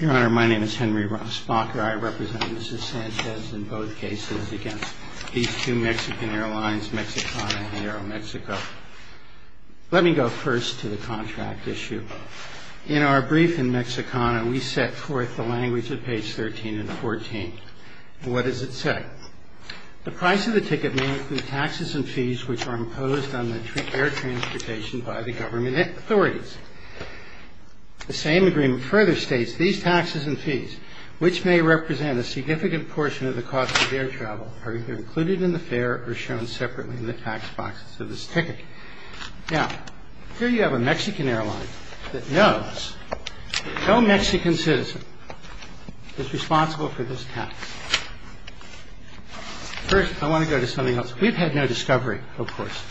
Your Honor, my name is Henry Spock and I represent Mrs. Sanchez in both cases against these two Mexican airlines, Mexicana and Aeromexico. Let me go first to the contract issue. In our brief in Mexicana, we set forth the language at page 13 and 14. What does it say? The price of the ticket may include taxes and fees which are imposed on the air transportation by the government authorities. The same agreement further states these taxes and fees, which may represent a significant portion of the cost of air travel, are either included in the fare or shown separately in the tax boxes of this ticket. Now, here you have a Mexican airline that knows no Mexican citizen is responsible for this tax. First, I want to go to something else. We've had no discovery, of course,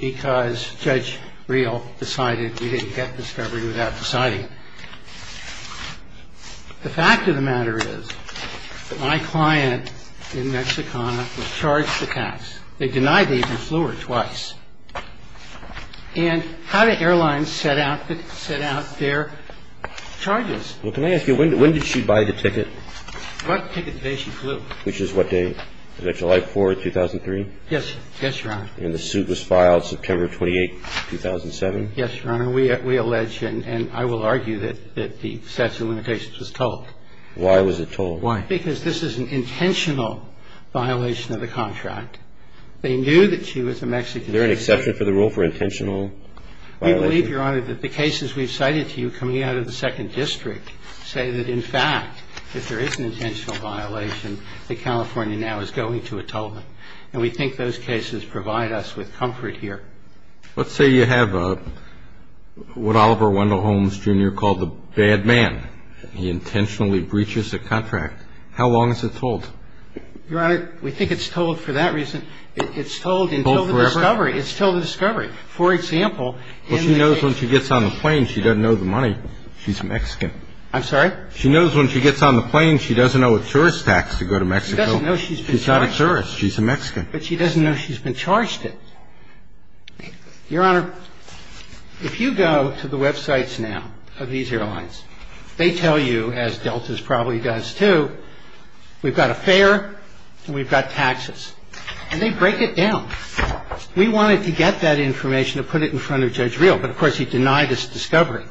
because Judge Reel decided we didn't get discovery without deciding. The fact of the matter is my client in Mexicana was charged a tax. They denied the even flew her twice. And how do airlines set out their charges? Well, can I ask you, when did she buy the ticket? What ticket day she flew. Which is what day? Is that July 4, 2003? Yes, Your Honor. And the suit was filed September 28, 2007? Yes, Your Honor. We allege and I will argue that the statute of limitations was told. Why was it told? Why? Because this is an intentional violation of the contract. They knew that she was a Mexican citizen. Is there an exception for the rule for intentional violation? We believe, Your Honor, that the cases we've cited to you coming out of the Second District say that, in fact, if there is an intentional violation, that California now is going to atone. And we think those cases provide us with comfort here. Let's say you have what Oliver Wendell Holmes, Jr. called the bad man. He intentionally breaches the contract. How long is it told? Your Honor, we think it's told for that reason. It's told until the discovery. Until forever? It's told until the discovery. It's told until the discovery. For example, in the case of — Well, she knows when she gets on the plane, she doesn't know the money. She's Mexican. I'm sorry? She knows when she gets on the plane, she doesn't know a tourist tax to go to Mexico. She doesn't know she's been charged it. She's not a tourist. She's a Mexican. But she doesn't know she's been charged it. Your Honor, if you go to the websites now of these airlines, they tell you, as Deltas probably does, too, we've got a fare and we've got taxes. And they break it down. We wanted to get that information to put it in front of Judge Reel, but of course he denied this discovery.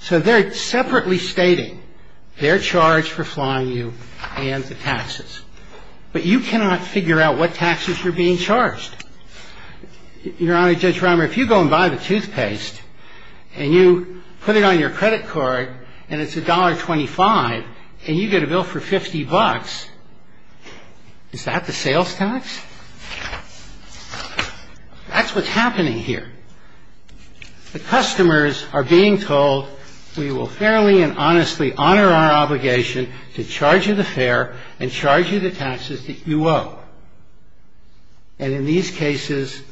So they're separately stating they're charged for flying you and the taxes. But you cannot figure out what taxes you're being charged. Your Honor, Judge Reimer, if you go and buy the toothpaste and you put it on your credit card and it's $1.25 and you get a bill for $50, is that the sales tax? That's what's happening here. The customers are being told we will fairly and honestly honor our obligation to charge you the fare and charge you the taxes that you owe. And in these cases,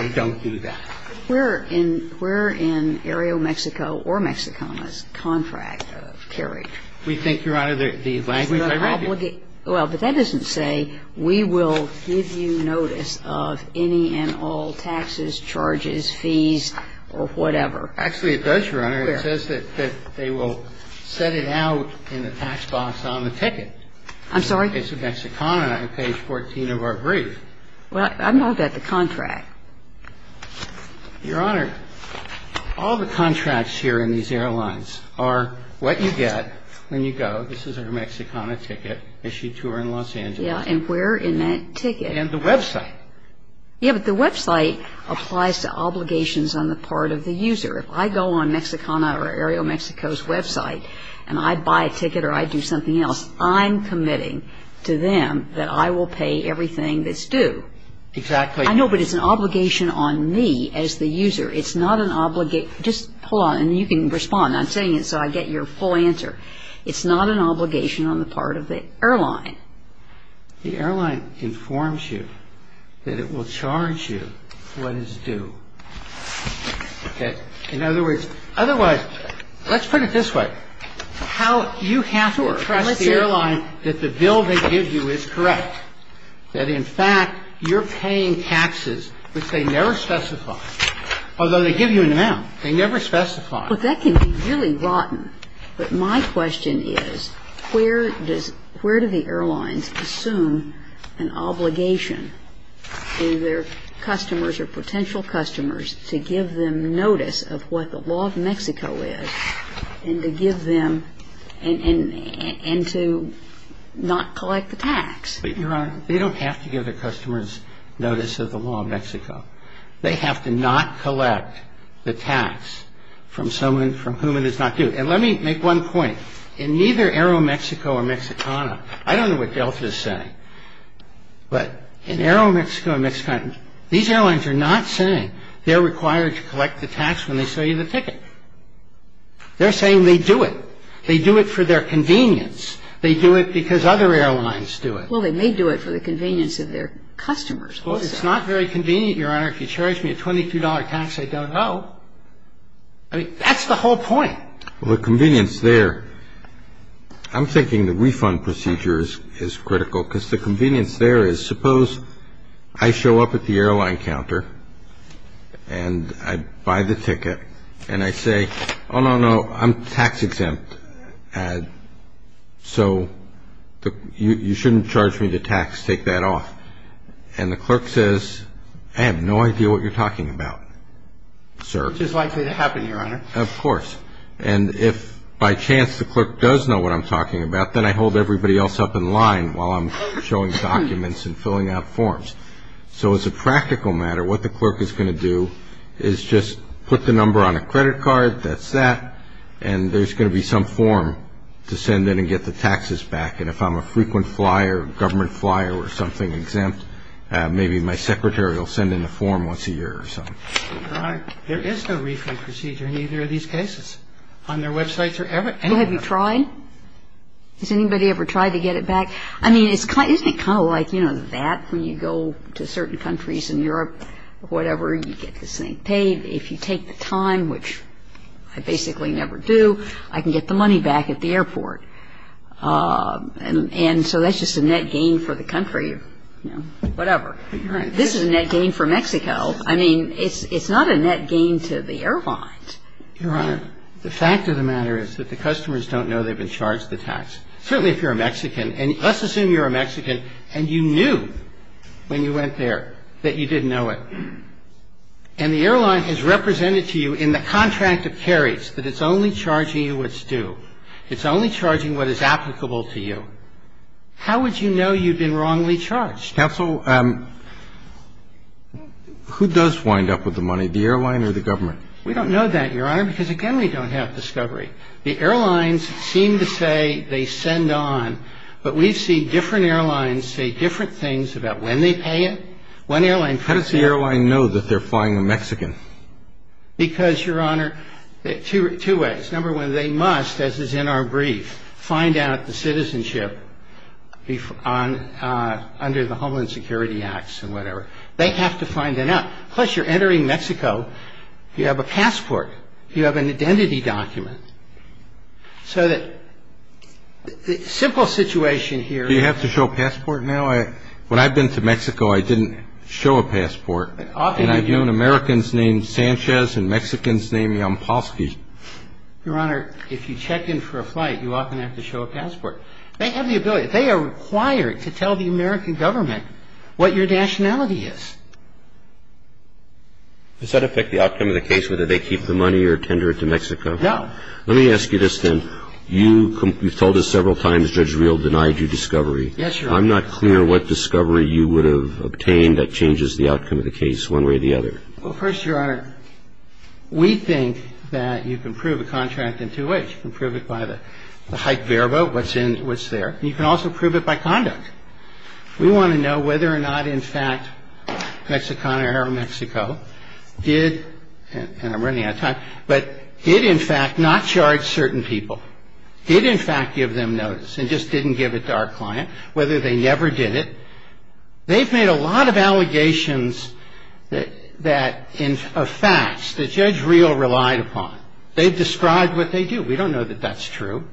we don't do that. We're in Aereo Mexico or Mexicana's contract of carriage. We think, Your Honor, the language I read you. Well, but that doesn't say we will give you notice of any and all taxes, charges, fees, or whatever. Actually, it does, Your Honor. Where? It says that they will set it out in the tax box on the ticket. I'm sorry? It's in Mexicana on page 14 of our brief. Well, I'm not at the contract. Your Honor, all the contracts here in these airlines are what you get when you go. This is our Mexicana ticket issued to her in Los Angeles. Yeah, and we're in that ticket. And the website. Yeah, but the website applies to obligations on the part of the user. If I go on Mexicana or Aereo Mexico's website and I buy a ticket or I do something else, I'm committing to them that I will pay everything that's due. Exactly. I know, but it's an obligation on me as the user. It's not an obligation. Just hold on, and you can respond. I'm saying it so I get your full answer. It's not an obligation on the part of the airline. The airline informs you that it will charge you what is due. Okay? In other words, otherwise, let's put it this way. You have to trust the airline that the bill they give you is correct, that, in fact, you're paying taxes which they never specify, although they give you an amount. They never specify. But that can be really rotten. But my question is, where do the airlines assume an obligation to their customers or potential customers to give them notice of what the law of Mexico is and to give them and to not collect the tax? Your Honor, they don't have to give their customers notice of the law of Mexico. They have to not collect the tax from someone from whom it is not due. And let me make one point. In neither Aereo Mexico or Mexicana, I don't know what Delta is saying, but in Aereo Mexico or Mexicana, these airlines are not saying they're required to collect the tax when they sell you the ticket. They're saying they do it. They do it for their convenience. They do it because other airlines do it. Well, they may do it for the convenience of their customers also. Well, it's not very convenient, Your Honor, if you charge me a $22 tax I don't owe. I mean, that's the whole point. Well, the convenience there, I'm thinking the refund procedure is critical, because the convenience there is suppose I show up at the airline counter and I buy the ticket and I say, oh, no, no, I'm tax exempt, so you shouldn't charge me the tax. Take that off. And the clerk says, I have no idea what you're talking about, sir. Which is likely to happen, Your Honor. Of course. And if by chance the clerk does know what I'm talking about, then I hold everybody else up in line while I'm showing documents and filling out forms. So as a practical matter, what the clerk is going to do is just put the number on a credit card, that's that, and there's going to be some form to send in and get the taxes back. And if I'm a frequent flyer, government flyer or something exempt, maybe my secretary will send in a form once a year or something. Your Honor, there is no refund procedure in either of these cases. On their websites or anywhere. Well, have you tried? Has anybody ever tried to get it back? I mean, isn't it kind of like, you know, that when you go to certain countries in Europe, whatever, you get this thing paid. If you take the time, which I basically never do, I can get the money back at the airport. And so that's just a net gain for the country, you know, whatever. This is a net gain for Mexico. I mean, it's not a net gain to the airline. Your Honor, the fact of the matter is that the customers don't know they've been charged the tax. Certainly if you're a Mexican, and let's assume you're a Mexican and you knew when you went there that you didn't know it. And the airline has represented to you in the contract of carriage that it's only charging you what's due. It's only charging what is applicable to you. How would you know you've been wrongly charged? Counsel, who does wind up with the money, the airline or the government? We don't know that, Your Honor, because, again, we don't have discovery. The airlines seem to say they send on, but we've seen different airlines say different things about when they pay it. How does the airline know that they're flying a Mexican? Because, Your Honor, two ways. Number one, they must, as is in our brief, find out the citizenship under the Homeland Security Acts and whatever. They have to find that out. Plus, you're entering Mexico. You have a passport. You have an identity document. So that the simple situation here. Do you have to show a passport now? When I've been to Mexico, I didn't show a passport. And I've known Americans named Sanchez and Mexicans named Yampolsky. Your Honor, if you check in for a flight, you often have to show a passport. They have the ability. They are required to tell the American government what your nationality is. Does that affect the outcome of the case, whether they keep the money or tender it to Mexico? No. Let me ask you this, then. You've told us several times Judge Reel denied you discovery. Yes, Your Honor. I'm not clear what discovery you would have obtained that changes the outcome of the case one way or the other. Well, first, Your Honor, we think that you can prove a contract in two ways. You can prove it by the hype verbo, what's in, what's there. And you can also prove it by conduct. We want to know whether or not, in fact, Mexicana or Aeromexico did, and I'm running out of time, but did, in fact, not charge certain people. Did, in fact, give them notice and just didn't give it to our client, whether they never did it. They've made a lot of allegations of facts that Judge Reel relied upon. They've described what they do. We don't know that that's true.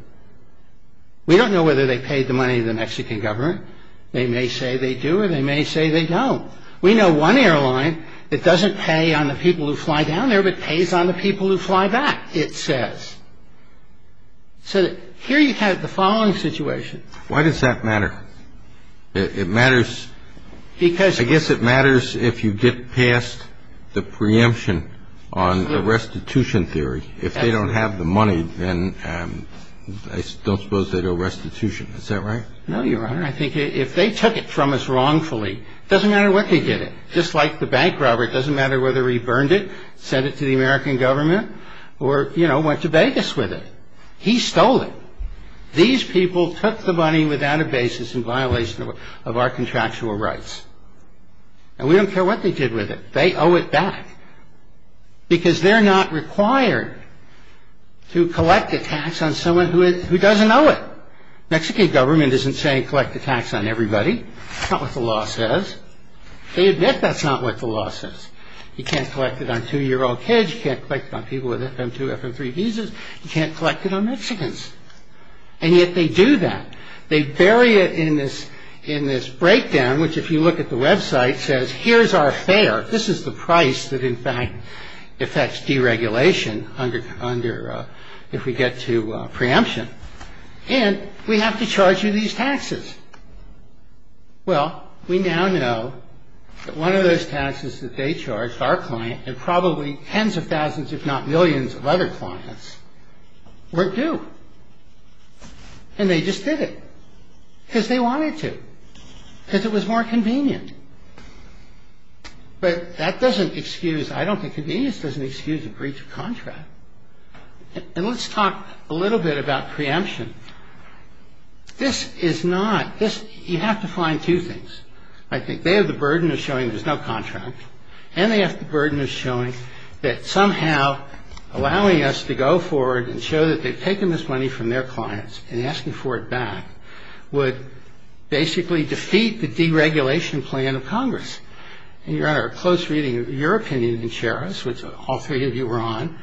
We don't know whether they paid the money to the Mexican government. They may say they do or they may say they don't. We know one airline that doesn't pay on the people who fly down there but pays on the people who fly back, it says. So here you have the following situation. Why does that matter? It matters because I guess it matters if you get past the preemption on the restitution theory. If they don't have the money, then I don't suppose they do a restitution. Is that right? No, Your Honor. I think if they took it from us wrongfully, it doesn't matter what they did it. Just like the bank robber, it doesn't matter whether he burned it, sent it to the American government, or, you know, went to Vegas with it. He stole it. These people took the money without a basis in violation of our contractual rights. And we don't care what they did with it. They owe it back because they're not required to collect a tax on someone who doesn't owe it. Mexican government isn't saying collect a tax on everybody. That's not what the law says. They admit that's not what the law says. You can't collect it on two-year-old kids. You can't collect it on people with FM2, FM3 visas. You can't collect it on Mexicans. And yet they do that. They bury it in this breakdown, which, if you look at the website, says here's our fare. This is the price that, in fact, affects deregulation if we get to preemption. And we have to charge you these taxes. Well, we now know that one of those taxes that they charged our client and probably tens of thousands, if not millions, of other clients weren't due. And they just did it because they wanted to, because it was more convenient. But that doesn't excuse – I don't think convenience doesn't excuse a breach of contract. And let's talk a little bit about preemption. This is not – you have to find two things, I think. They have the burden of showing there's no contract, and they have the burden of showing that somehow allowing us to go forward and show that they've taken this money from their clients and asking for it back would basically defeat the deregulation plan of Congress. And, Your Honor, a close reading of your opinion can share us, which all three of you were on.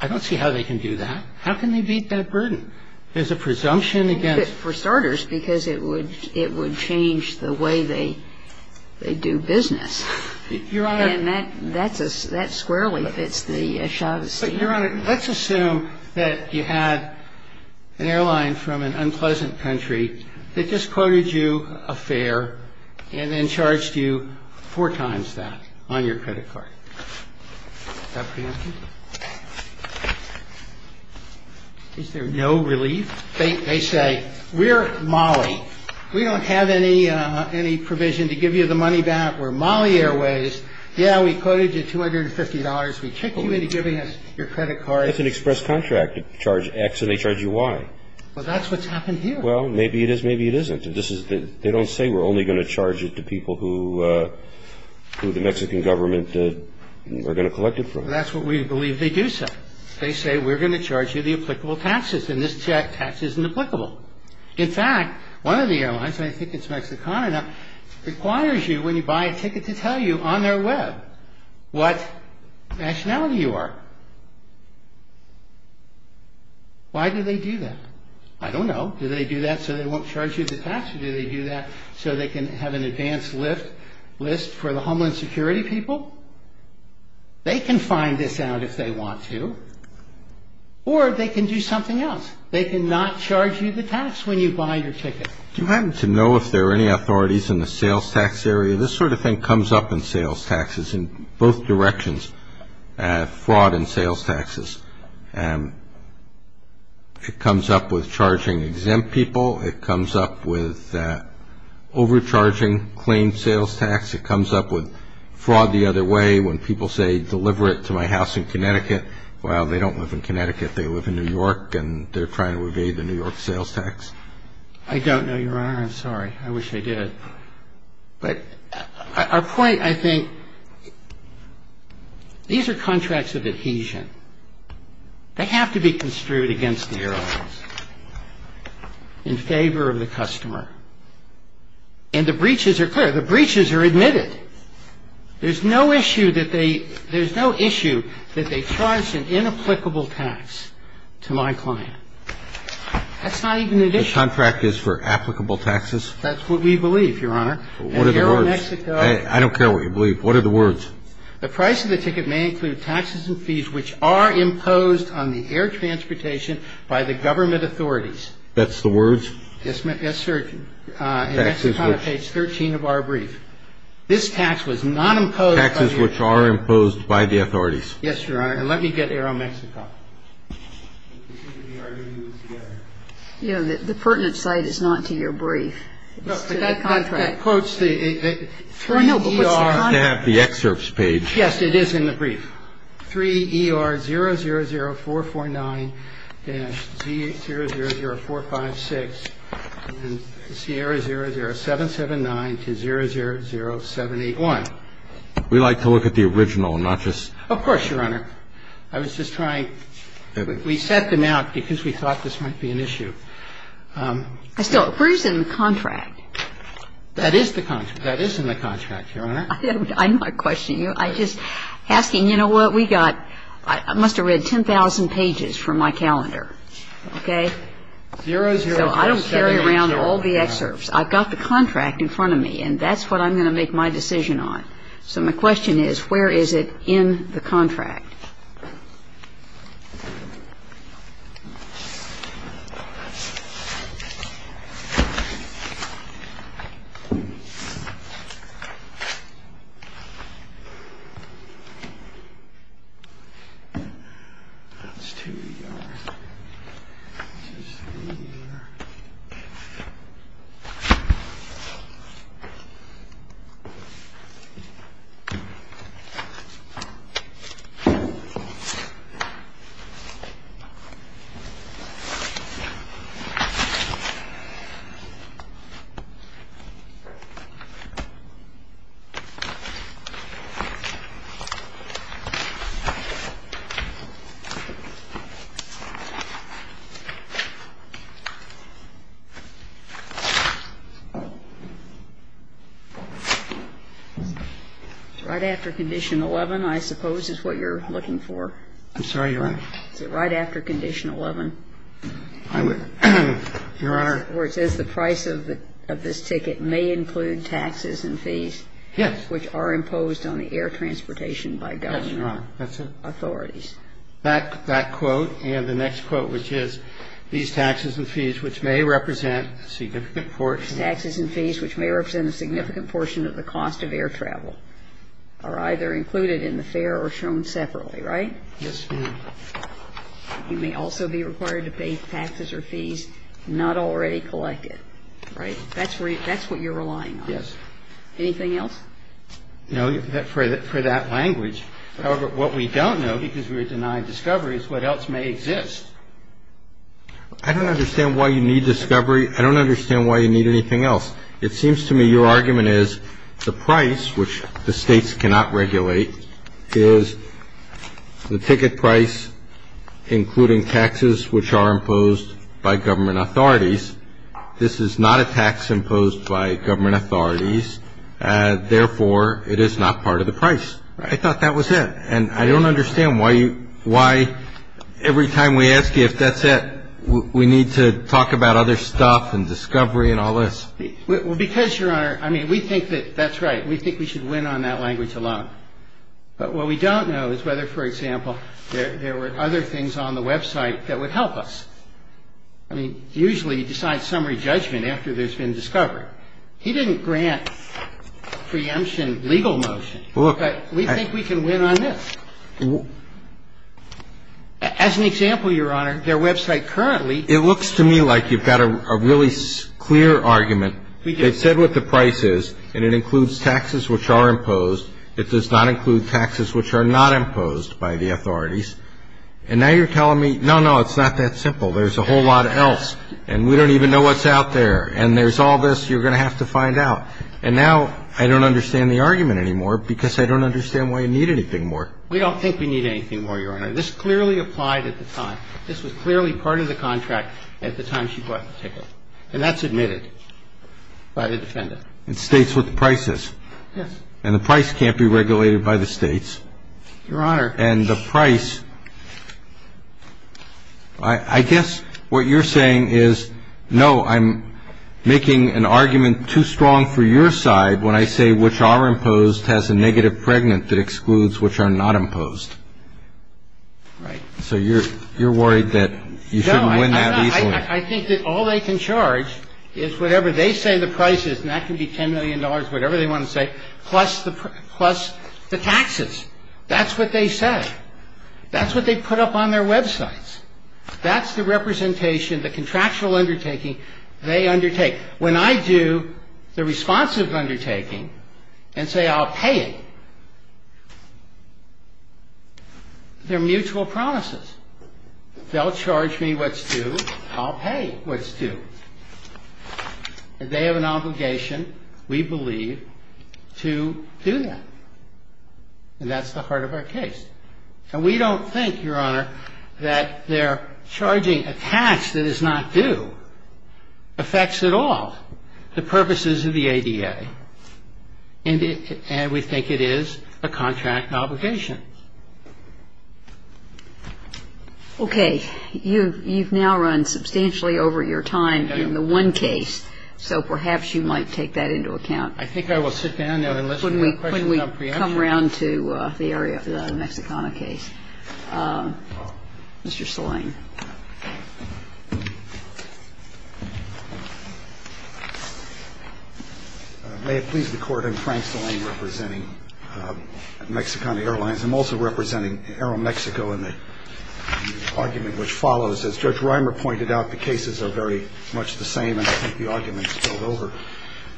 I don't see how they can do that. How can they beat that burden? There's a presumption against – For starters, because it would change the way they do business. Your Honor – And that squarely fits the Chavez scheme. Your Honor, let's assume that you had an airline from an unpleasant country that just quoted you a fare and then charged you four times that on your credit card. Is that preemptive? Is there no relief? They say, we're Mali. We don't have any provision to give you the money back. We're Mali Airways. Yeah, we quoted you $250. We kicked you into giving us your credit card. That's an express contract to charge X and they charge you Y. Well, that's what's happened here. Well, maybe it is, maybe it isn't. They don't say we're only going to charge it to people who the Mexican government are going to collect it from. That's what we believe they do say. They say, we're going to charge you the applicable taxes, and this tax isn't applicable. In fact, one of the airlines, and I think it's Mexicana now, requires you when you buy a ticket to tell you on their web what nationality you are. Why do they do that? I don't know. Do they do that so they won't charge you the tax, or do they do that so they can have an advanced list for the Homeland Security people? They can find this out if they want to, or they can do something else. They cannot charge you the tax when you buy your ticket. Do you happen to know if there are any authorities in the sales tax area? This sort of thing comes up in sales taxes in both directions, fraud and sales taxes. It comes up with charging exempt people. It comes up with overcharging claim sales tax. It comes up with fraud the other way when people say, deliver it to my house in Connecticut. Well, they don't live in Connecticut. They live in New York, and they're trying to evade the New York sales tax. I don't know, Your Honor. I'm sorry. I wish I did. But our point, I think, these are contracts of adhesion. They have to be construed against the airlines in favor of the customer. And the breaches are clear. The breaches are admitted. There's no issue that they charge an inapplicable tax to my client. That's not even an issue. The contract is for applicable taxes? That's what we believe, Your Honor. What are the words? Aero-Mexico. I don't care what you believe. What are the words? The price of the ticket may include taxes and fees which are imposed on the air transportation by the government authorities. That's the words? Yes, sir. And that's on page 13 of our brief. This tax was not imposed. Taxes which are imposed by the authorities. Yes, Your Honor. And let me get Aero-Mexico. The pertinent site is not to your brief. It's to the contract. That quotes the 3ER. No, no, but what's the contract? It's in the excerpts page. Yes, it is in the brief. 3ER-000449-Z000456 and Sierra-00779-000781. We like to look at the original, not just the contract. Of course, Your Honor. I was just trying. We set them out because we thought this might be an issue. Still, where is it in the contract? That is the contract. That is in the contract, Your Honor. I'm not questioning you. I'm just asking, you know what, we got, I must have read 10,000 pages from my calendar. Okay? So I don't carry around all the excerpts. I've got the contract in front of me, and that's what I'm going to make my decision on. So my question is, where is it in the contract? Okay. It's right after Condition 11, I suppose, is what you're looking for. I'm sorry, Your Honor. Is it right after Condition 11? I would, Your Honor. Where it says the price of this ticket may include taxes and fees. Yes. Which are imposed on the air transportation by government. Yes, Your Honor. That's it. Authorities. That quote, and the next quote, which is, these taxes and fees, which may represent a significant portion. Right? They may be a significant portion of the cost of air travel, or either included in the fare or shown separately, right? Yes, Your Honor. You may also be required to pay taxes or fees not already collected. That's where you, that's what you're relying on. Yes. Anything else? No. For that language. However, what we don't know, because we were denied discovery, is what else may exist. I don't understand why you need discovery. I don't understand why you need anything else. It seems to me your argument is the price, which the states cannot regulate, is the ticket price, including taxes which are imposed by government authorities. This is not a tax imposed by government authorities. Therefore, it is not part of the price. I thought that was it. And I don't understand why you, why every time we ask you if that's it, we need to talk about other stuff and discovery and all this. Well, because, Your Honor, I mean, we think that that's right. We think we should win on that language alone. But what we don't know is whether, for example, there were other things on the website that would help us. I mean, usually you decide summary judgment after there's been discovery. He didn't grant preemption legal motion. Look. But we think we can win on this. As an example, Your Honor, their website currently. It looks to me like you've got a really clear argument. They've said what the price is, and it includes taxes which are imposed. It does not include taxes which are not imposed by the authorities. And now you're telling me, no, no, it's not that simple. There's a whole lot else. And we don't even know what's out there. And there's all this you're going to have to find out. And now I don't understand the argument anymore because I don't understand why you need anything more. We don't think we need anything more, Your Honor. This clearly applied at the time. This was clearly part of the contract at the time she bought the ticket. And that's admitted by the defendant. It states what the price is. Yes. And the price can't be regulated by the states. Your Honor. And the price. I guess what you're saying is, no, I'm making an argument too strong for your side when I say which are imposed has a negative pregnant that excludes which are not imposed. Right. So you're worried that you shouldn't win that easily. No, I think that all they can charge is whatever they say the price is, and that can be $10 million, whatever they want to say, plus the taxes. That's what they say. That's what they put up on their websites. That's the representation, the contractual undertaking they undertake. When I do the responsive undertaking and say I'll pay it, they're mutual promises. They'll charge me what's due. I'll pay what's due. They have an obligation, we believe, to do that. And that's the heart of our case. And we don't think, Your Honor, that their charging a tax that is not due affects at all the purposes of the ADA. And we think it is a contract obligation. Okay. You've now run substantially over your time in the one case, so perhaps you might take that into account. I think I will sit down and listen to your questions on preemption. I'll come around to the area of the Mexicana case. Mr. Saleng. May it please the Court, I'm Frank Saleng representing Mexicana Airlines. I'm also representing Aeromexico in the argument which follows. As Judge Reimer pointed out, the cases are very much the same, and I think the argument is spilled over.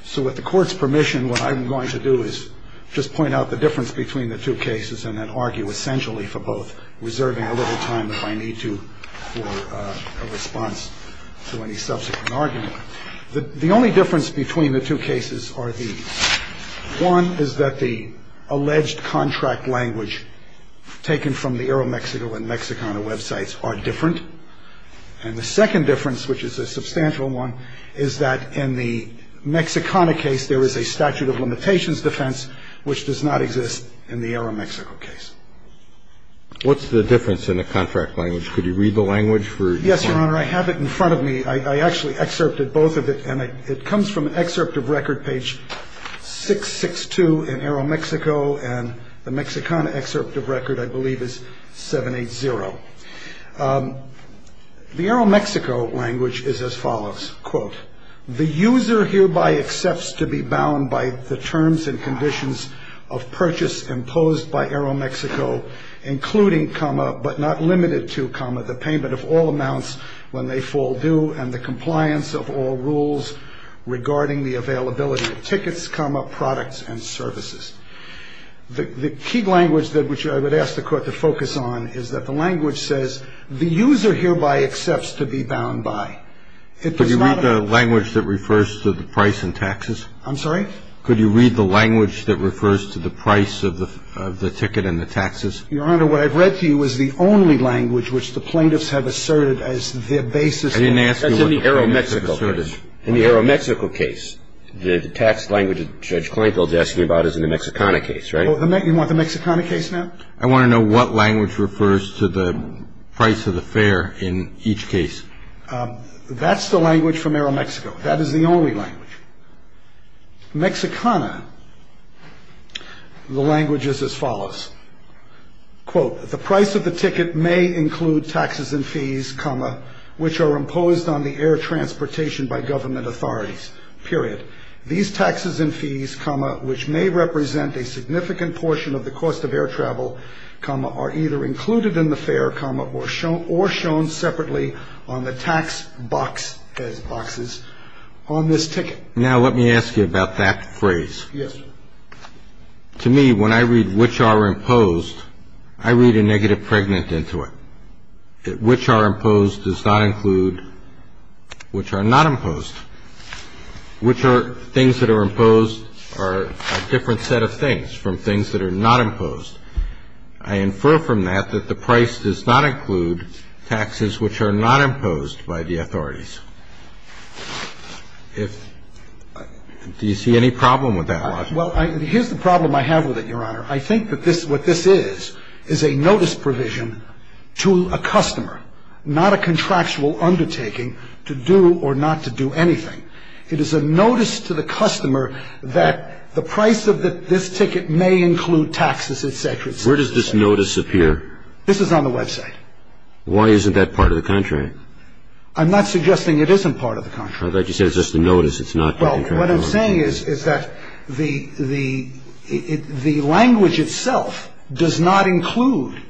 So with the Court's permission, what I'm going to do is just point out the difference between the two cases and then argue essentially for both, reserving a little time if I need to for a response to any subsequent argument. The only difference between the two cases are these. One is that the alleged contract language taken from the Aeromexico and Mexicana websites are different. And the second difference, which is a substantial one, is that in the Mexicana case, there is a statute of limitations defense which does not exist in the Aeromexico case. What's the difference in the contract language? Could you read the language for me? Yes, Your Honor. I have it in front of me. I actually excerpted both of it, and it comes from an excerpt of record page 662 in Aeromexico, and the Mexicana excerpt of record, I believe, is 780. The Aeromexico language is as follows. Quote, the user hereby accepts to be bound by the terms and conditions of purchase imposed by Aeromexico, including, comma, but not limited to, comma, the payment of all amounts when they fall due and the compliance of all rules regarding the availability of tickets, comma, products and services. The key language that I would ask the Court to focus on is that the language says, the user hereby accepts to be bound by. Could you read the language that refers to the price and taxes? I'm sorry? Could you read the language that refers to the price of the ticket and the taxes? Your Honor, what I've read to you is the only language which the plaintiffs have asserted as their basis. I didn't ask you what the plaintiffs have asserted. That's in the Aeromexico case. The tax language that Judge Kleinfeld is asking about is in the Mexicana case, right? You want the Mexicana case now? I want to know what language refers to the price of the fare in each case. That's the language for Aeromexico. That is the only language. Mexicana, the language is as follows. Quote, the price of the ticket may include taxes and fees, comma, which are imposed on the air transportation by government authorities, period. These taxes and fees, comma, which may represent a significant portion of the cost of air travel, comma, are either included in the fare, comma, or shown separately on the tax box, as boxes, on this ticket. Now, let me ask you about that phrase. Yes, sir. To me, when I read which are imposed, I read a negative pregnant into it. Which are imposed does not include which are not imposed. Which are things that are imposed are a different set of things from things that are not imposed. I infer from that that the price does not include taxes which are not imposed by the authorities. If do you see any problem with that, Your Honor? Well, here's the problem I have with it, Your Honor. I think that this, what this is, is a notice provision to a customer, not a contractual undertaking to do or not to do anything. It is a notice to the customer that the price of this ticket may include taxes, et cetera, et cetera. Where does this notice appear? This is on the website. Why isn't that part of the contract? I'm not suggesting it isn't part of the contract. What I'm saying is that the language itself does not include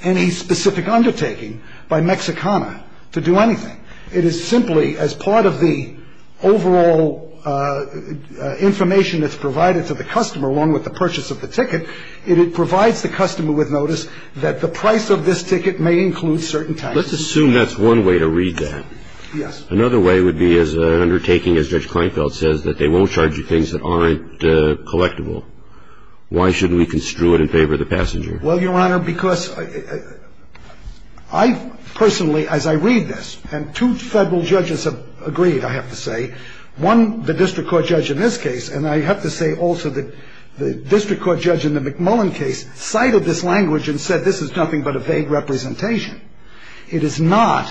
any specific undertaking by Mexicana to do anything. It is simply as part of the overall information that's provided to the customer along with the purchase of the ticket, it provides the customer with notice that the price of this ticket may include certain taxes. Let's assume that's one way to read that. Yes. Another way would be as an undertaking, as Judge Kleinfeld says, that they won't charge you things that aren't collectible. Why shouldn't we construe it in favor of the passenger? Well, Your Honor, because I personally, as I read this, and two federal judges have agreed, I have to say. One, the district court judge in this case, and I have to say also that the district court judge in the McMullen case cited this language and said this is nothing but a vague representation. It is not.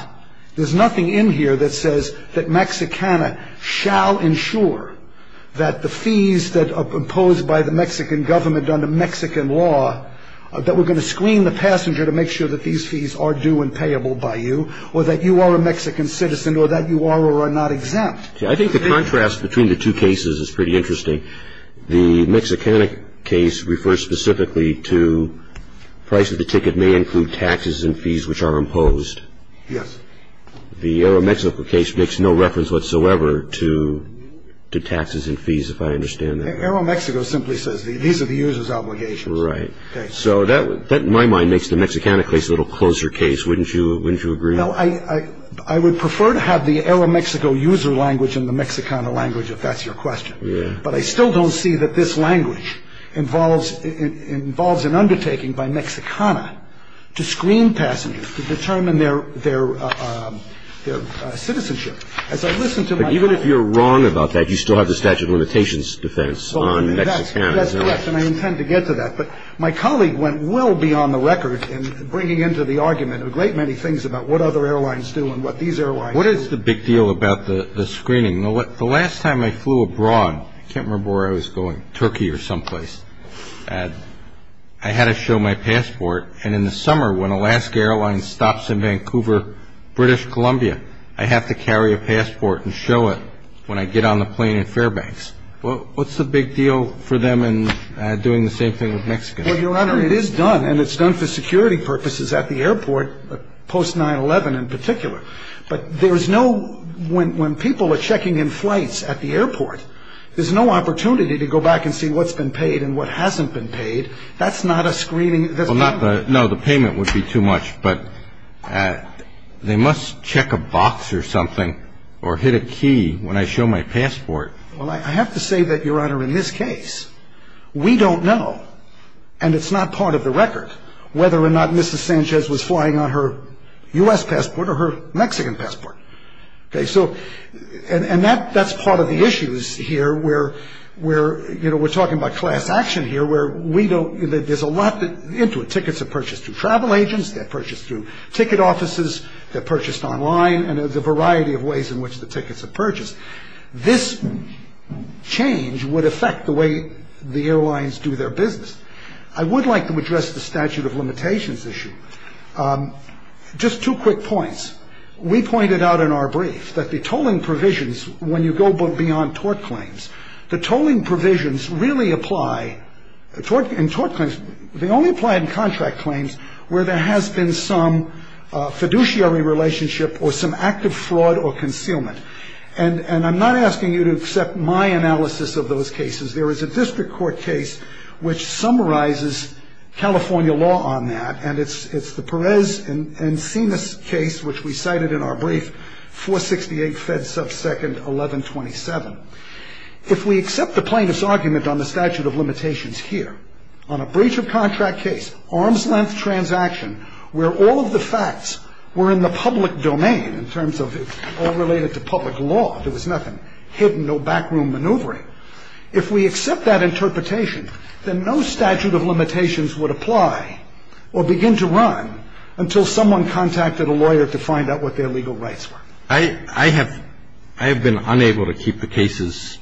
There's nothing in here that says that Mexicana shall ensure that the fees that are imposed by the Mexican government under Mexican law, that we're going to screen the passenger to make sure that these fees are due and payable by you or that you are a Mexican citizen or that you are or are not exempt. I think the contrast between the two cases is pretty interesting. The Mexican case refers specifically to price of the ticket may include taxes and fees which are imposed. Yes. The AeroMexico case makes no reference whatsoever to taxes and fees, if I understand that. AeroMexico simply says these are the user's obligations. Right. So that, in my mind, makes the Mexicana case a little closer case. Wouldn't you agree? I would prefer to have the AeroMexico user language in the Mexicana language, if that's your question. But I still don't see that this language involves an undertaking by Mexicana to screen passengers, to determine their citizenship. But even if you're wrong about that, you still have the statute of limitations defense on Mexicana. That's correct, and I intend to get to that. But my colleague went well beyond the record in bringing into the argument a great many things about what other airlines do and what these airlines do. What is the big deal about the screening? The last time I flew abroad, I can't remember where I was going, Turkey or someplace, I had to show my passport. And in the summer, when Alaska Airlines stops in Vancouver, British Columbia, I have to carry a passport and show it when I get on the plane in Fairbanks. What's the big deal for them in doing the same thing with Mexicana? Well, Your Honor, it is done, and it's done for security purposes at the airport, post-9-11 in particular. But there is no, when people are checking in flights at the airport, there's no opportunity to go back and see what's been paid and what hasn't been paid. That's not a screening. No, the payment would be too much, but they must check a box or something or hit a key when I show my passport. Well, I have to say that, Your Honor, in this case, we don't know, and it's not part of the record, whether or not Mrs. Sanchez was flying on her U.S. passport or her Mexican passport. And that's part of the issues here where we're talking about class action here, where there's a lot into it. Tickets are purchased through travel agents, they're purchased through ticket offices, they're purchased online, and there's a variety of ways in which the tickets are purchased. This change would affect the way the airlines do their business. I would like to address the statute of limitations issue. Just two quick points. We pointed out in our brief that the tolling provisions, when you go beyond tort claims, the tolling provisions really apply in tort claims, they only apply in contract claims where there has been some fiduciary relationship or some active fraud or concealment. And I'm not asking you to accept my analysis of those cases. There is a district court case which summarizes California law on that, and it's the Perez and Sinas case, which we cited in our brief, 468 Fed subsecond 1127. If we accept the plaintiff's argument on the statute of limitations here, on a breach of contract case, arm's-length transaction, where all of the facts were in the public domain in terms of all related to public law, there was nothing hidden, no backroom maneuvering. If we accept that interpretation, then no statute of limitations would apply or begin to run until someone contacted a lawyer to find out what their legal rights were. I have been unable to keep the cases,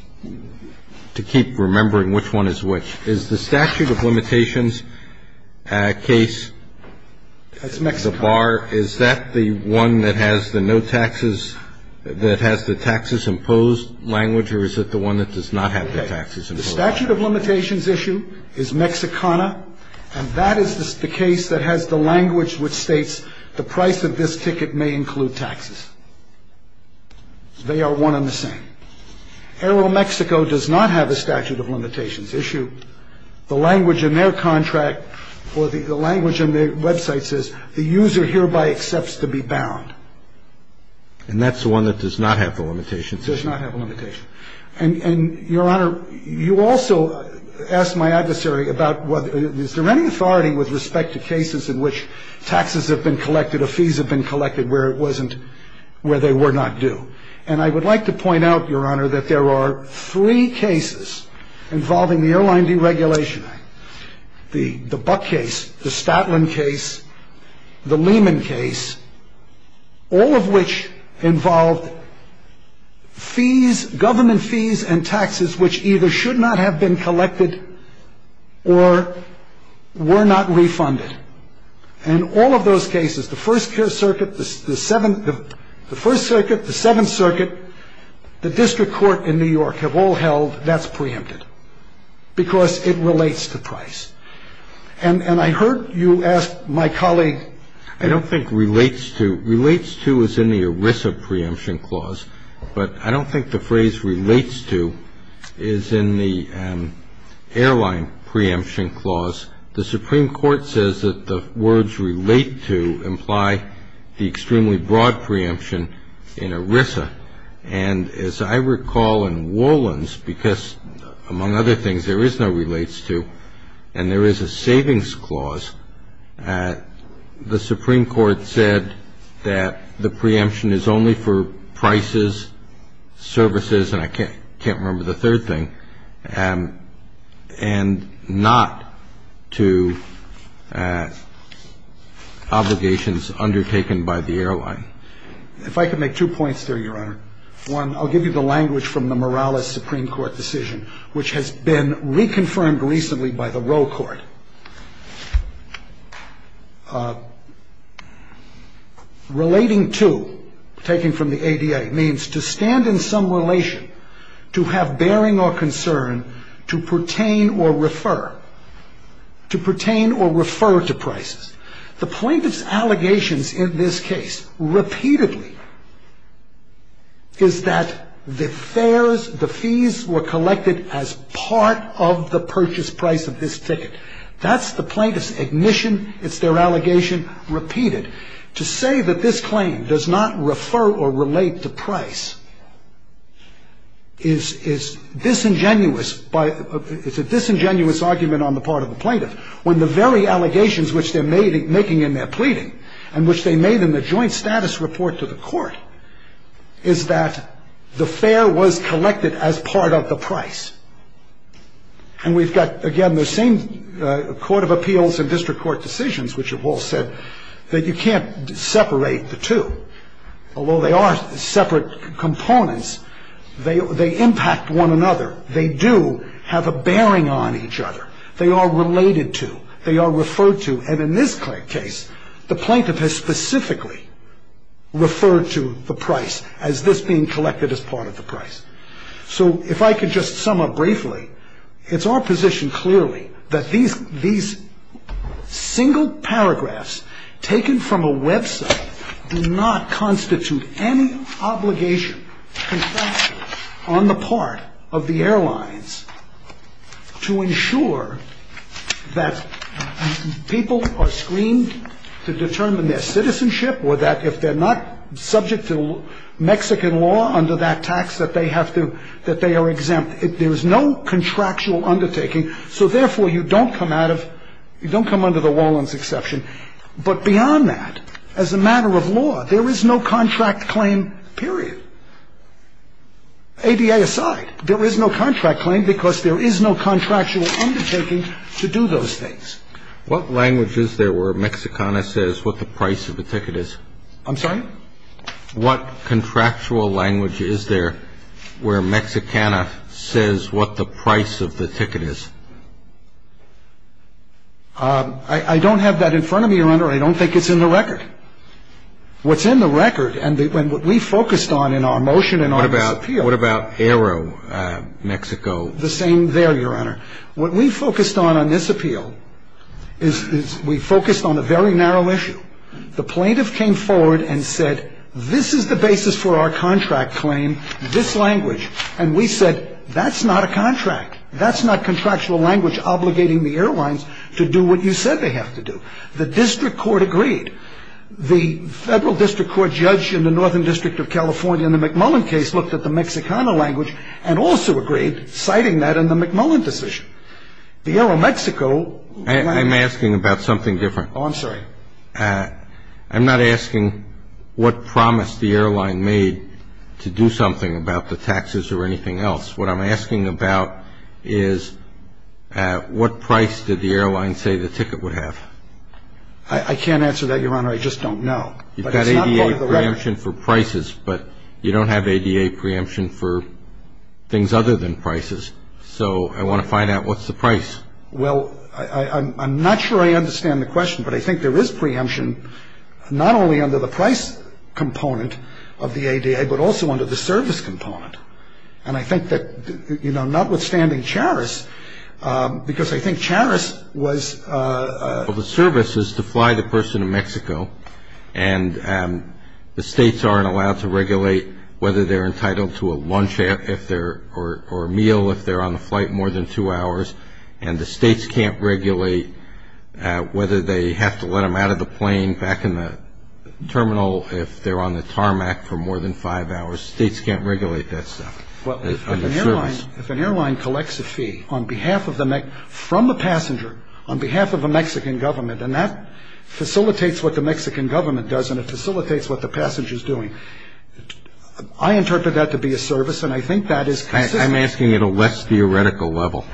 to keep remembering which one is which. Is the statute of limitations case, the bar, is that the one that has the no taxes, that has the taxes imposed language, or is it the one that does not have the taxes imposed? The statute of limitations issue is Mexicana, and that is the case that has the language which states the price of this ticket may include taxes. They are one and the same. Aeromexico does not have a statute of limitations issue. The language in their contract or the language in their website says the user hereby accepts to be bound. And that's the one that does not have the limitations issue. It does not have a limitation. And, Your Honor, you also asked my adversary about is there any authority with respect to cases in which taxes have been collected or fees have been collected where it wasn't, where they were not due. And I would like to point out, Your Honor, that there are three cases involving the Airline Deregulation Act. The Buck case, the Statlin case, the Lehman case, all of which involved fees, government fees and taxes, which either should not have been collected or were not refunded. And all of those cases, the First Circuit, the Seventh Circuit, the District Court in New York, have all held that's preempted because it relates to price. And I heard you ask my colleague. I don't think relates to. Relates to is in the ERISA preemption clause. But I don't think the phrase relates to is in the airline preemption clause. The Supreme Court says that the words relate to imply the extremely broad preemption in ERISA. And as I recall in Wolins, because, among other things, there is no relates to, and there is a savings clause, the Supreme Court said that the preemption is only for prices, services, and I can't remember the third thing, and not to obligations undertaken by the airline. If I could make two points there, Your Honor. One, I'll give you the language from the Morales Supreme Court decision, which has been reconfirmed recently by the Roe Court. Relating to, taken from the ADA, means to stand in some relation, to have bearing or concern, to pertain or refer, to pertain or refer to prices. The plaintiff's allegations in this case repeatedly is that the fares, the fees were collected as part of the purchase price of this ticket. That's the plaintiff's admission. It's their allegation repeated. To say that this claim does not refer or relate to price is disingenuous, it's a disingenuous argument on the part of the plaintiff, when the very allegations which they're making in their pleading, and which they made in the joint status report to the court, is that the fare was collected as part of the price. And we've got, again, the same court of appeals and district court decisions, which have all said that you can't separate the two. Although they are separate components, they impact one another. They do have a bearing on each other. They are related to. They are referred to. And in this case, the plaintiff has specifically referred to the price as this being collected as part of the price. So if I could just sum up briefly, it's our position clearly that these single paragraphs taken from a website do not constitute any obligation on the part of the airlines to ensure that people are screened to determine their citizenship or that if they're not subject to Mexican law under that tax, that they are exempt. There is no contractual undertaking. So, therefore, you don't come under the Wallen's exception. But beyond that, as a matter of law, there is no contract claim, period. ADA aside, there is no contract claim because there is no contractual undertaking to do those things. What language is there where Mexicana says what the price of the ticket is? I'm sorry? What contractual language is there where Mexicana says what the price of the ticket is? I don't have that in front of me, Your Honor. I don't think it's in the record. What's in the record and what we focused on in our motion and our disappeal. What about AeroMexico? The same there, Your Honor. What we focused on on this appeal is we focused on a very narrow issue. The plaintiff came forward and said, this is the basis for our contract claim, this language. And we said, that's not a contract. That's not contractual language obligating the airlines to do what you said they have to do. The district court agreed. The federal district court judge in the Northern District of California in the McMullen case looked at the Mexicana language and also agreed, citing that in the McMullen decision. The AeroMexico. I'm asking about something different. Oh, I'm sorry. I'm not asking what promise the airline made to do something about the taxes or anything else. What I'm asking about is what price did the airline say the ticket would have? I can't answer that, Your Honor. I just don't know. You've got ADA preemption for prices, but you don't have ADA preemption for things other than prices. So I want to find out what's the price. Well, I'm not sure I understand the question, but I think there is preemption not only under the price component of the ADA, but also under the service component. And I think that, you know, notwithstanding Charis, because I think Charis was... Well, the service is to fly the person to Mexico, and the states aren't allowed to regulate whether they're entitled to a lunch or a meal if they're on the flight more than two hours, and the states can't regulate whether they have to let them out of the plane back in the terminal if they're on the tarmac for more than five hours. States can't regulate that stuff under service. Well, if an airline collects a fee on behalf of the Mexican... from the passenger on behalf of the Mexican government, and that facilitates what the Mexican government does, and it facilitates what the passenger is doing, I interpret that to be a service, and I think that is consistent. I'm asking at a less theoretical level.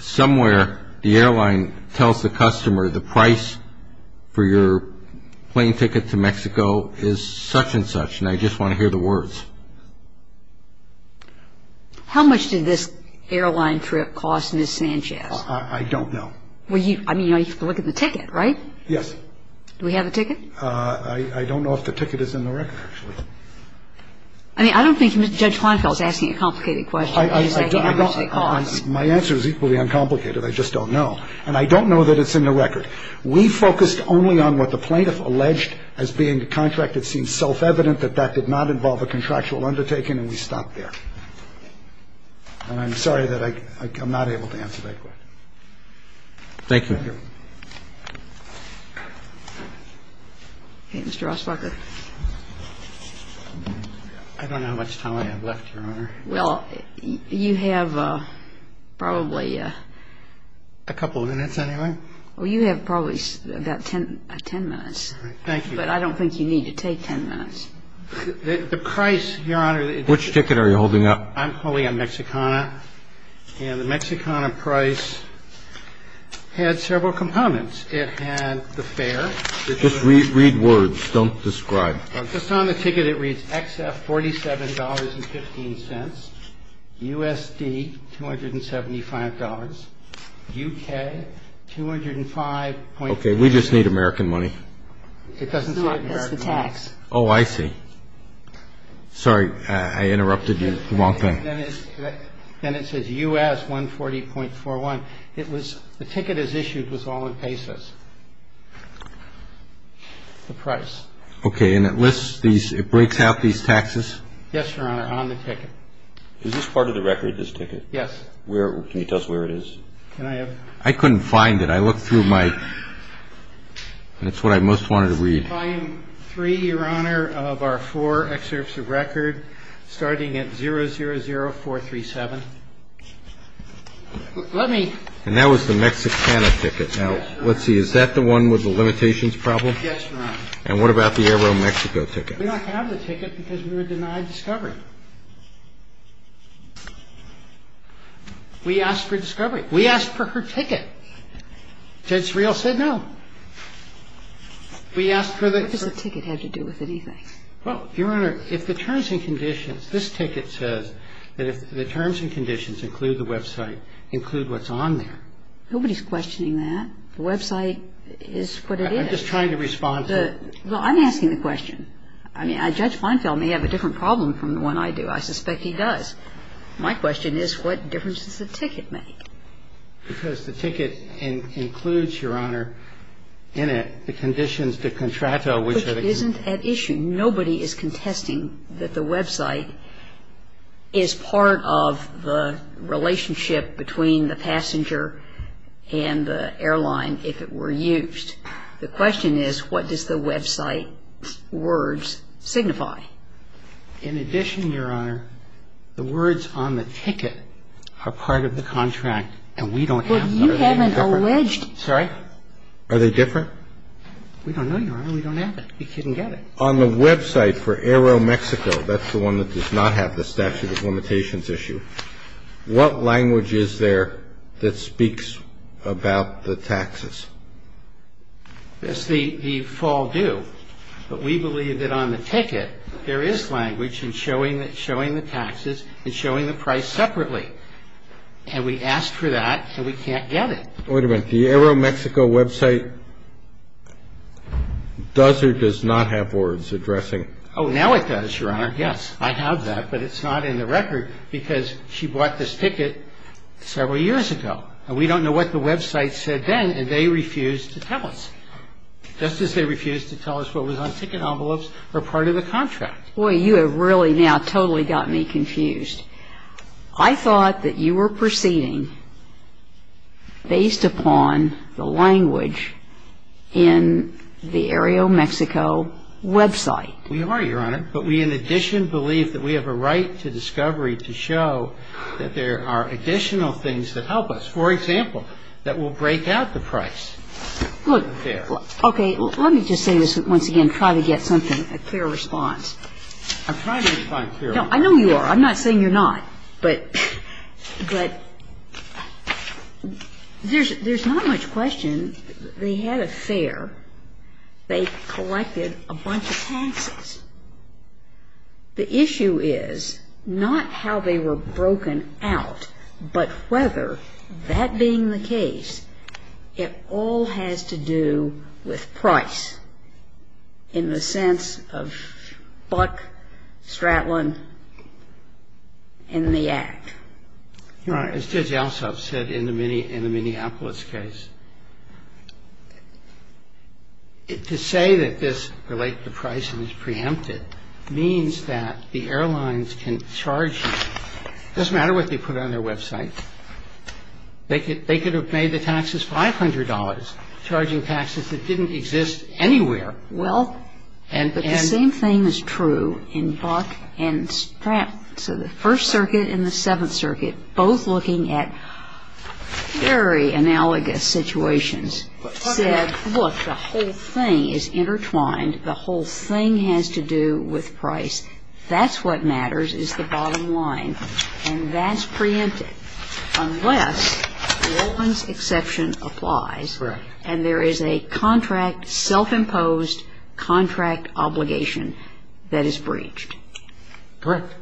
Somewhere the airline tells the customer the price for your plane ticket to Mexico is such and such, and I just want to hear the words. How much did this airline trip cost Ms. Sanchez? I don't know. Well, you know, you have to look at the ticket, right? Yes. Do we have a ticket? I don't know if the ticket is in the record, actually. I mean, I don't think Judge Kleinfeld is asking a complicated question. My answer is equally uncomplicated. I just don't know. And I don't know that it's in the record. We focused only on what the plaintiff alleged as being the contract that seems self-evident, that that did not involve a contractual undertaking, and we stopped there. And I'm sorry that I'm not able to answer that question. Thank you. Thank you. Okay, Mr. Rossbacher. I don't know how much time I have left, Your Honor. Well, you have probably... A couple minutes, anyway. Well, you have probably about 10 minutes. Thank you. But I don't think you need to take 10 minutes. The price, Your Honor... Which ticket are you holding up? I'm holding up Mexicana. And the Mexicana price had several components. It had the fare. Just read words. Don't describe. Just on the ticket, it reads XF $47.15, USD $275, UK $205.41. Okay, we just need American money. It doesn't say American money. No, it's the tax. Oh, I see. Sorry, I interrupted you. Then it says US $140.41. The ticket as issued was all in pesos, the price. Okay, and it lists these... it breaks out these taxes? Yes, Your Honor, on the ticket. Is this part of the record, this ticket? Yes. Can you tell us where it is? Can I have... I couldn't find it. I looked through my... That's what I most wanted to read. Volume 3, Your Honor, of our four excerpts of record, starting at 000437. Let me... And that was the Mexicana ticket. Now, let's see. Is that the one with the limitations problem? Yes, Your Honor. And what about the AeroMexico ticket? We don't have the ticket because we were denied discovery. We asked for discovery. We asked for her ticket. Judge Real said no. We asked for the... What does the ticket have to do with anything? Well, Your Honor, if the terms and conditions... This ticket says that if the terms and conditions include the website, include what's on there. Nobody's questioning that. The website is what it is. I'm just trying to respond to... Well, I'm asking the question. I mean, Judge Feinfeld may have a different problem from the one I do. I suspect he does. My question is what difference does the ticket make? Because the ticket includes, Your Honor, in it the conditions to contract... Which isn't at issue. Nobody is contesting that the website is part of the relationship between the passenger and the airline if it were used. The question is what does the website words signify? In addition, Your Honor, the words on the ticket are part of the contract, and we don't have that. But you haven't alleged... Sorry? Are they different? We don't know, Your Honor. We don't have it. We couldn't get it. On the website for Aeromexico, that's the one that does not have the statute of limitations issue, what language is there that speaks about the taxes? It's the fall due. But we believe that on the ticket there is language in showing the taxes and showing the price separately. And we asked for that, and we can't get it. Wait a minute. The Aeromexico website does or does not have words addressing... Oh, now it does, Your Honor. Yes, I have that. But it's not in the record because she bought this ticket several years ago. And we don't know what the website said then, and they refused to tell us, just as they refused to tell us what was on ticket envelopes or part of the contract. Boy, you have really now totally got me confused. I thought that you were proceeding based upon the language in the Aeromexico website. We are, Your Honor. But we, in addition, believe that we have a right to discovery to show that there are additional things that help us, for example, that will break out the price. Okay. Let me just say this once again, try to get something, a clear response. I'm trying to find a clear response. I know you are. I'm not saying you're not. But there's not much question. They had a fare. They collected a bunch of taxes. The issue is not how they were broken out, but whether, that being the case, it all has to do with price in the sense of Buck, Stratlin, and the Act. And, Your Honor, as Judge Alsop said in the Minneapolis case, to say that this relate to price and is preempted means that the airlines can charge you, it doesn't matter what they put on their website, they could have made the taxes $500 charging taxes that didn't exist anywhere. Well, but the same thing is true in Buck and Stratlin. So the First Circuit and the Seventh Circuit, both looking at very analogous situations, said, look, the whole thing is intertwined. The whole thing has to do with price. That's what matters is the bottom line. And that's preempted. Unless the Olins exception applies and there is a contract self-imposed contract obligation that is breached. Correct.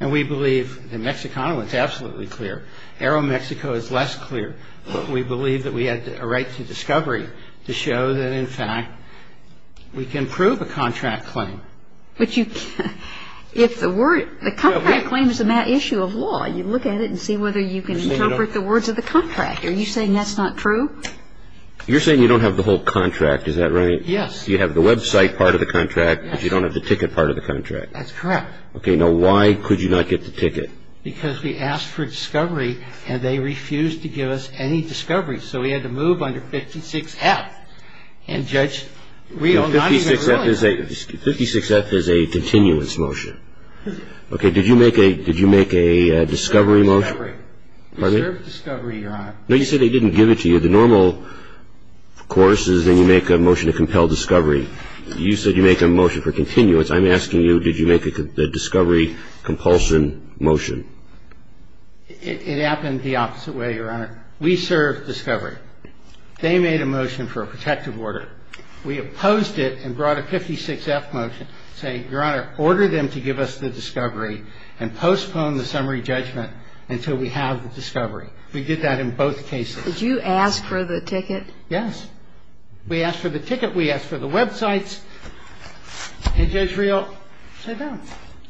And we believe in Mexico it's absolutely clear. Aeromexico is less clear. But we believe that we had a right to discovery to show that, in fact, we can prove a contract claim. But you can't. If the word, the contract claim is a matter of law. You look at it and see whether you can interpret the words of the contract. Are you saying that's not true? You're saying you don't have the whole contract. Is that right? Yes. You have the website part of the contract, but you don't have the ticket part of the contract. That's correct. Okay. Now, why could you not get the ticket? Because we asked for discovery and they refused to give us any discovery. So we had to move under 56F. And, Judge, we are not even willing to do that. 56F is a continuance motion. Okay. Did you make a discovery motion? We served discovery, Your Honor. No, you said they didn't give it to you. The normal course is then you make a motion to compel discovery. You said you make a motion for continuance. I'm asking you, did you make a discovery compulsion motion? It happened the opposite way, Your Honor. We served discovery. They made a motion for a protective order. We opposed it and brought a 56F motion saying, Your Honor, order them to give us the discovery and postpone the summary judgment until we have the discovery. We did that in both cases. Did you ask for the ticket? Yes. We asked for the ticket. We asked for the websites. And Judge Riel said no,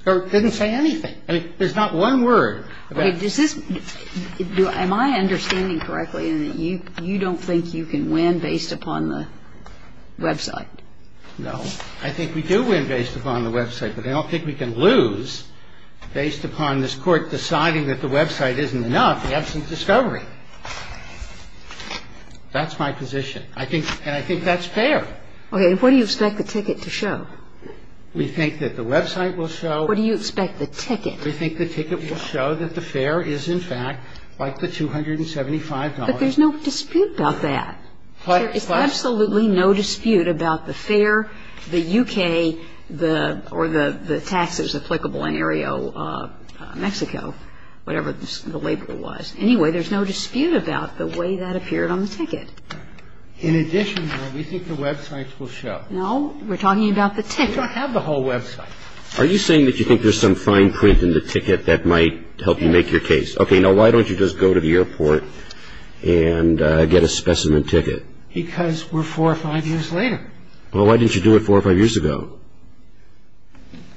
or didn't say anything. I mean, there's not one word about it. Okay. Am I understanding correctly in that you don't think you can win based upon the website? No. I think we do win based upon the website, but I don't think we can lose based upon this Court deciding that the website isn't enough in the absence of discovery. That's my position. And I think that's fair. Okay. And what do you expect the ticket to show? We think that the website will show. What do you expect the ticket? We think the ticket will show that the fare is, in fact, like the $275. But there's no dispute about that. There is absolutely no dispute about the fare, the U.K., the or the taxes applicable in Areo, Mexico, whatever the label was. Anyway, there's no dispute about the way that appeared on the ticket. In addition, though, we think the websites will show. No. We're talking about the ticket. We don't have the whole website. Are you saying that you think there's some fine print in the ticket that might help you make your case? Yes. Okay. Now, why don't you just go to the airport and get a specimen ticket? Because we're four or five years later. Well, why didn't you do it four or five years ago?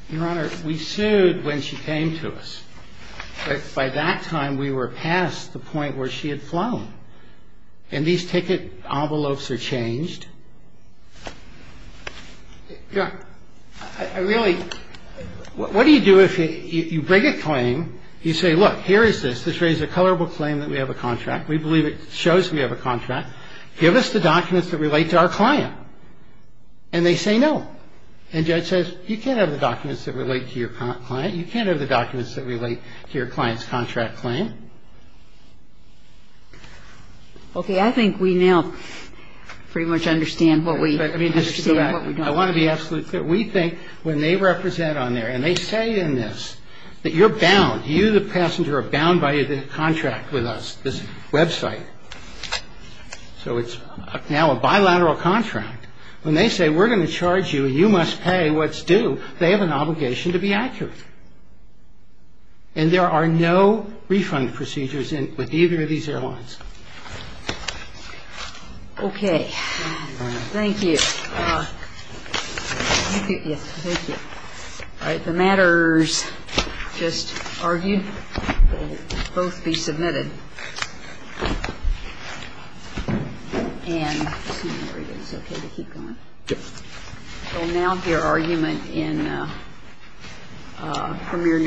Your Honor, we sued when she came to us. But by that time, we were past the point where she had flown. And these ticket envelopes are changed. Your Honor, I really ñ what do you do if you bring a claim, you say, look, here is this. This raises a colorable claim that we have a contract. We believe it shows we have a contract. Give us the documents that relate to our client. And they say no. And the judge says, you can't have the documents that relate to your client. You can't have the documents that relate to your client's contract claim. Okay. I think we now pretty much understand what we ñ understand what we don't. Let me just go back. I want to be absolutely clear. We think when they represent on there, and they say in this that you're bound, you the passenger are bound by the contract with us, this website. So it's now a bilateral contract. When they say we're going to charge you and you must pay what's due, they have an obligation to be accurate. And there are no refund procedures with either of these airlines. Okay. Thank you, Your Honor. Thank you. Yes, thank you. All right. The matters just argued will both be submitted. And there it is. Okay. Keep going. Yes. So now the argument in Premier Nutrition.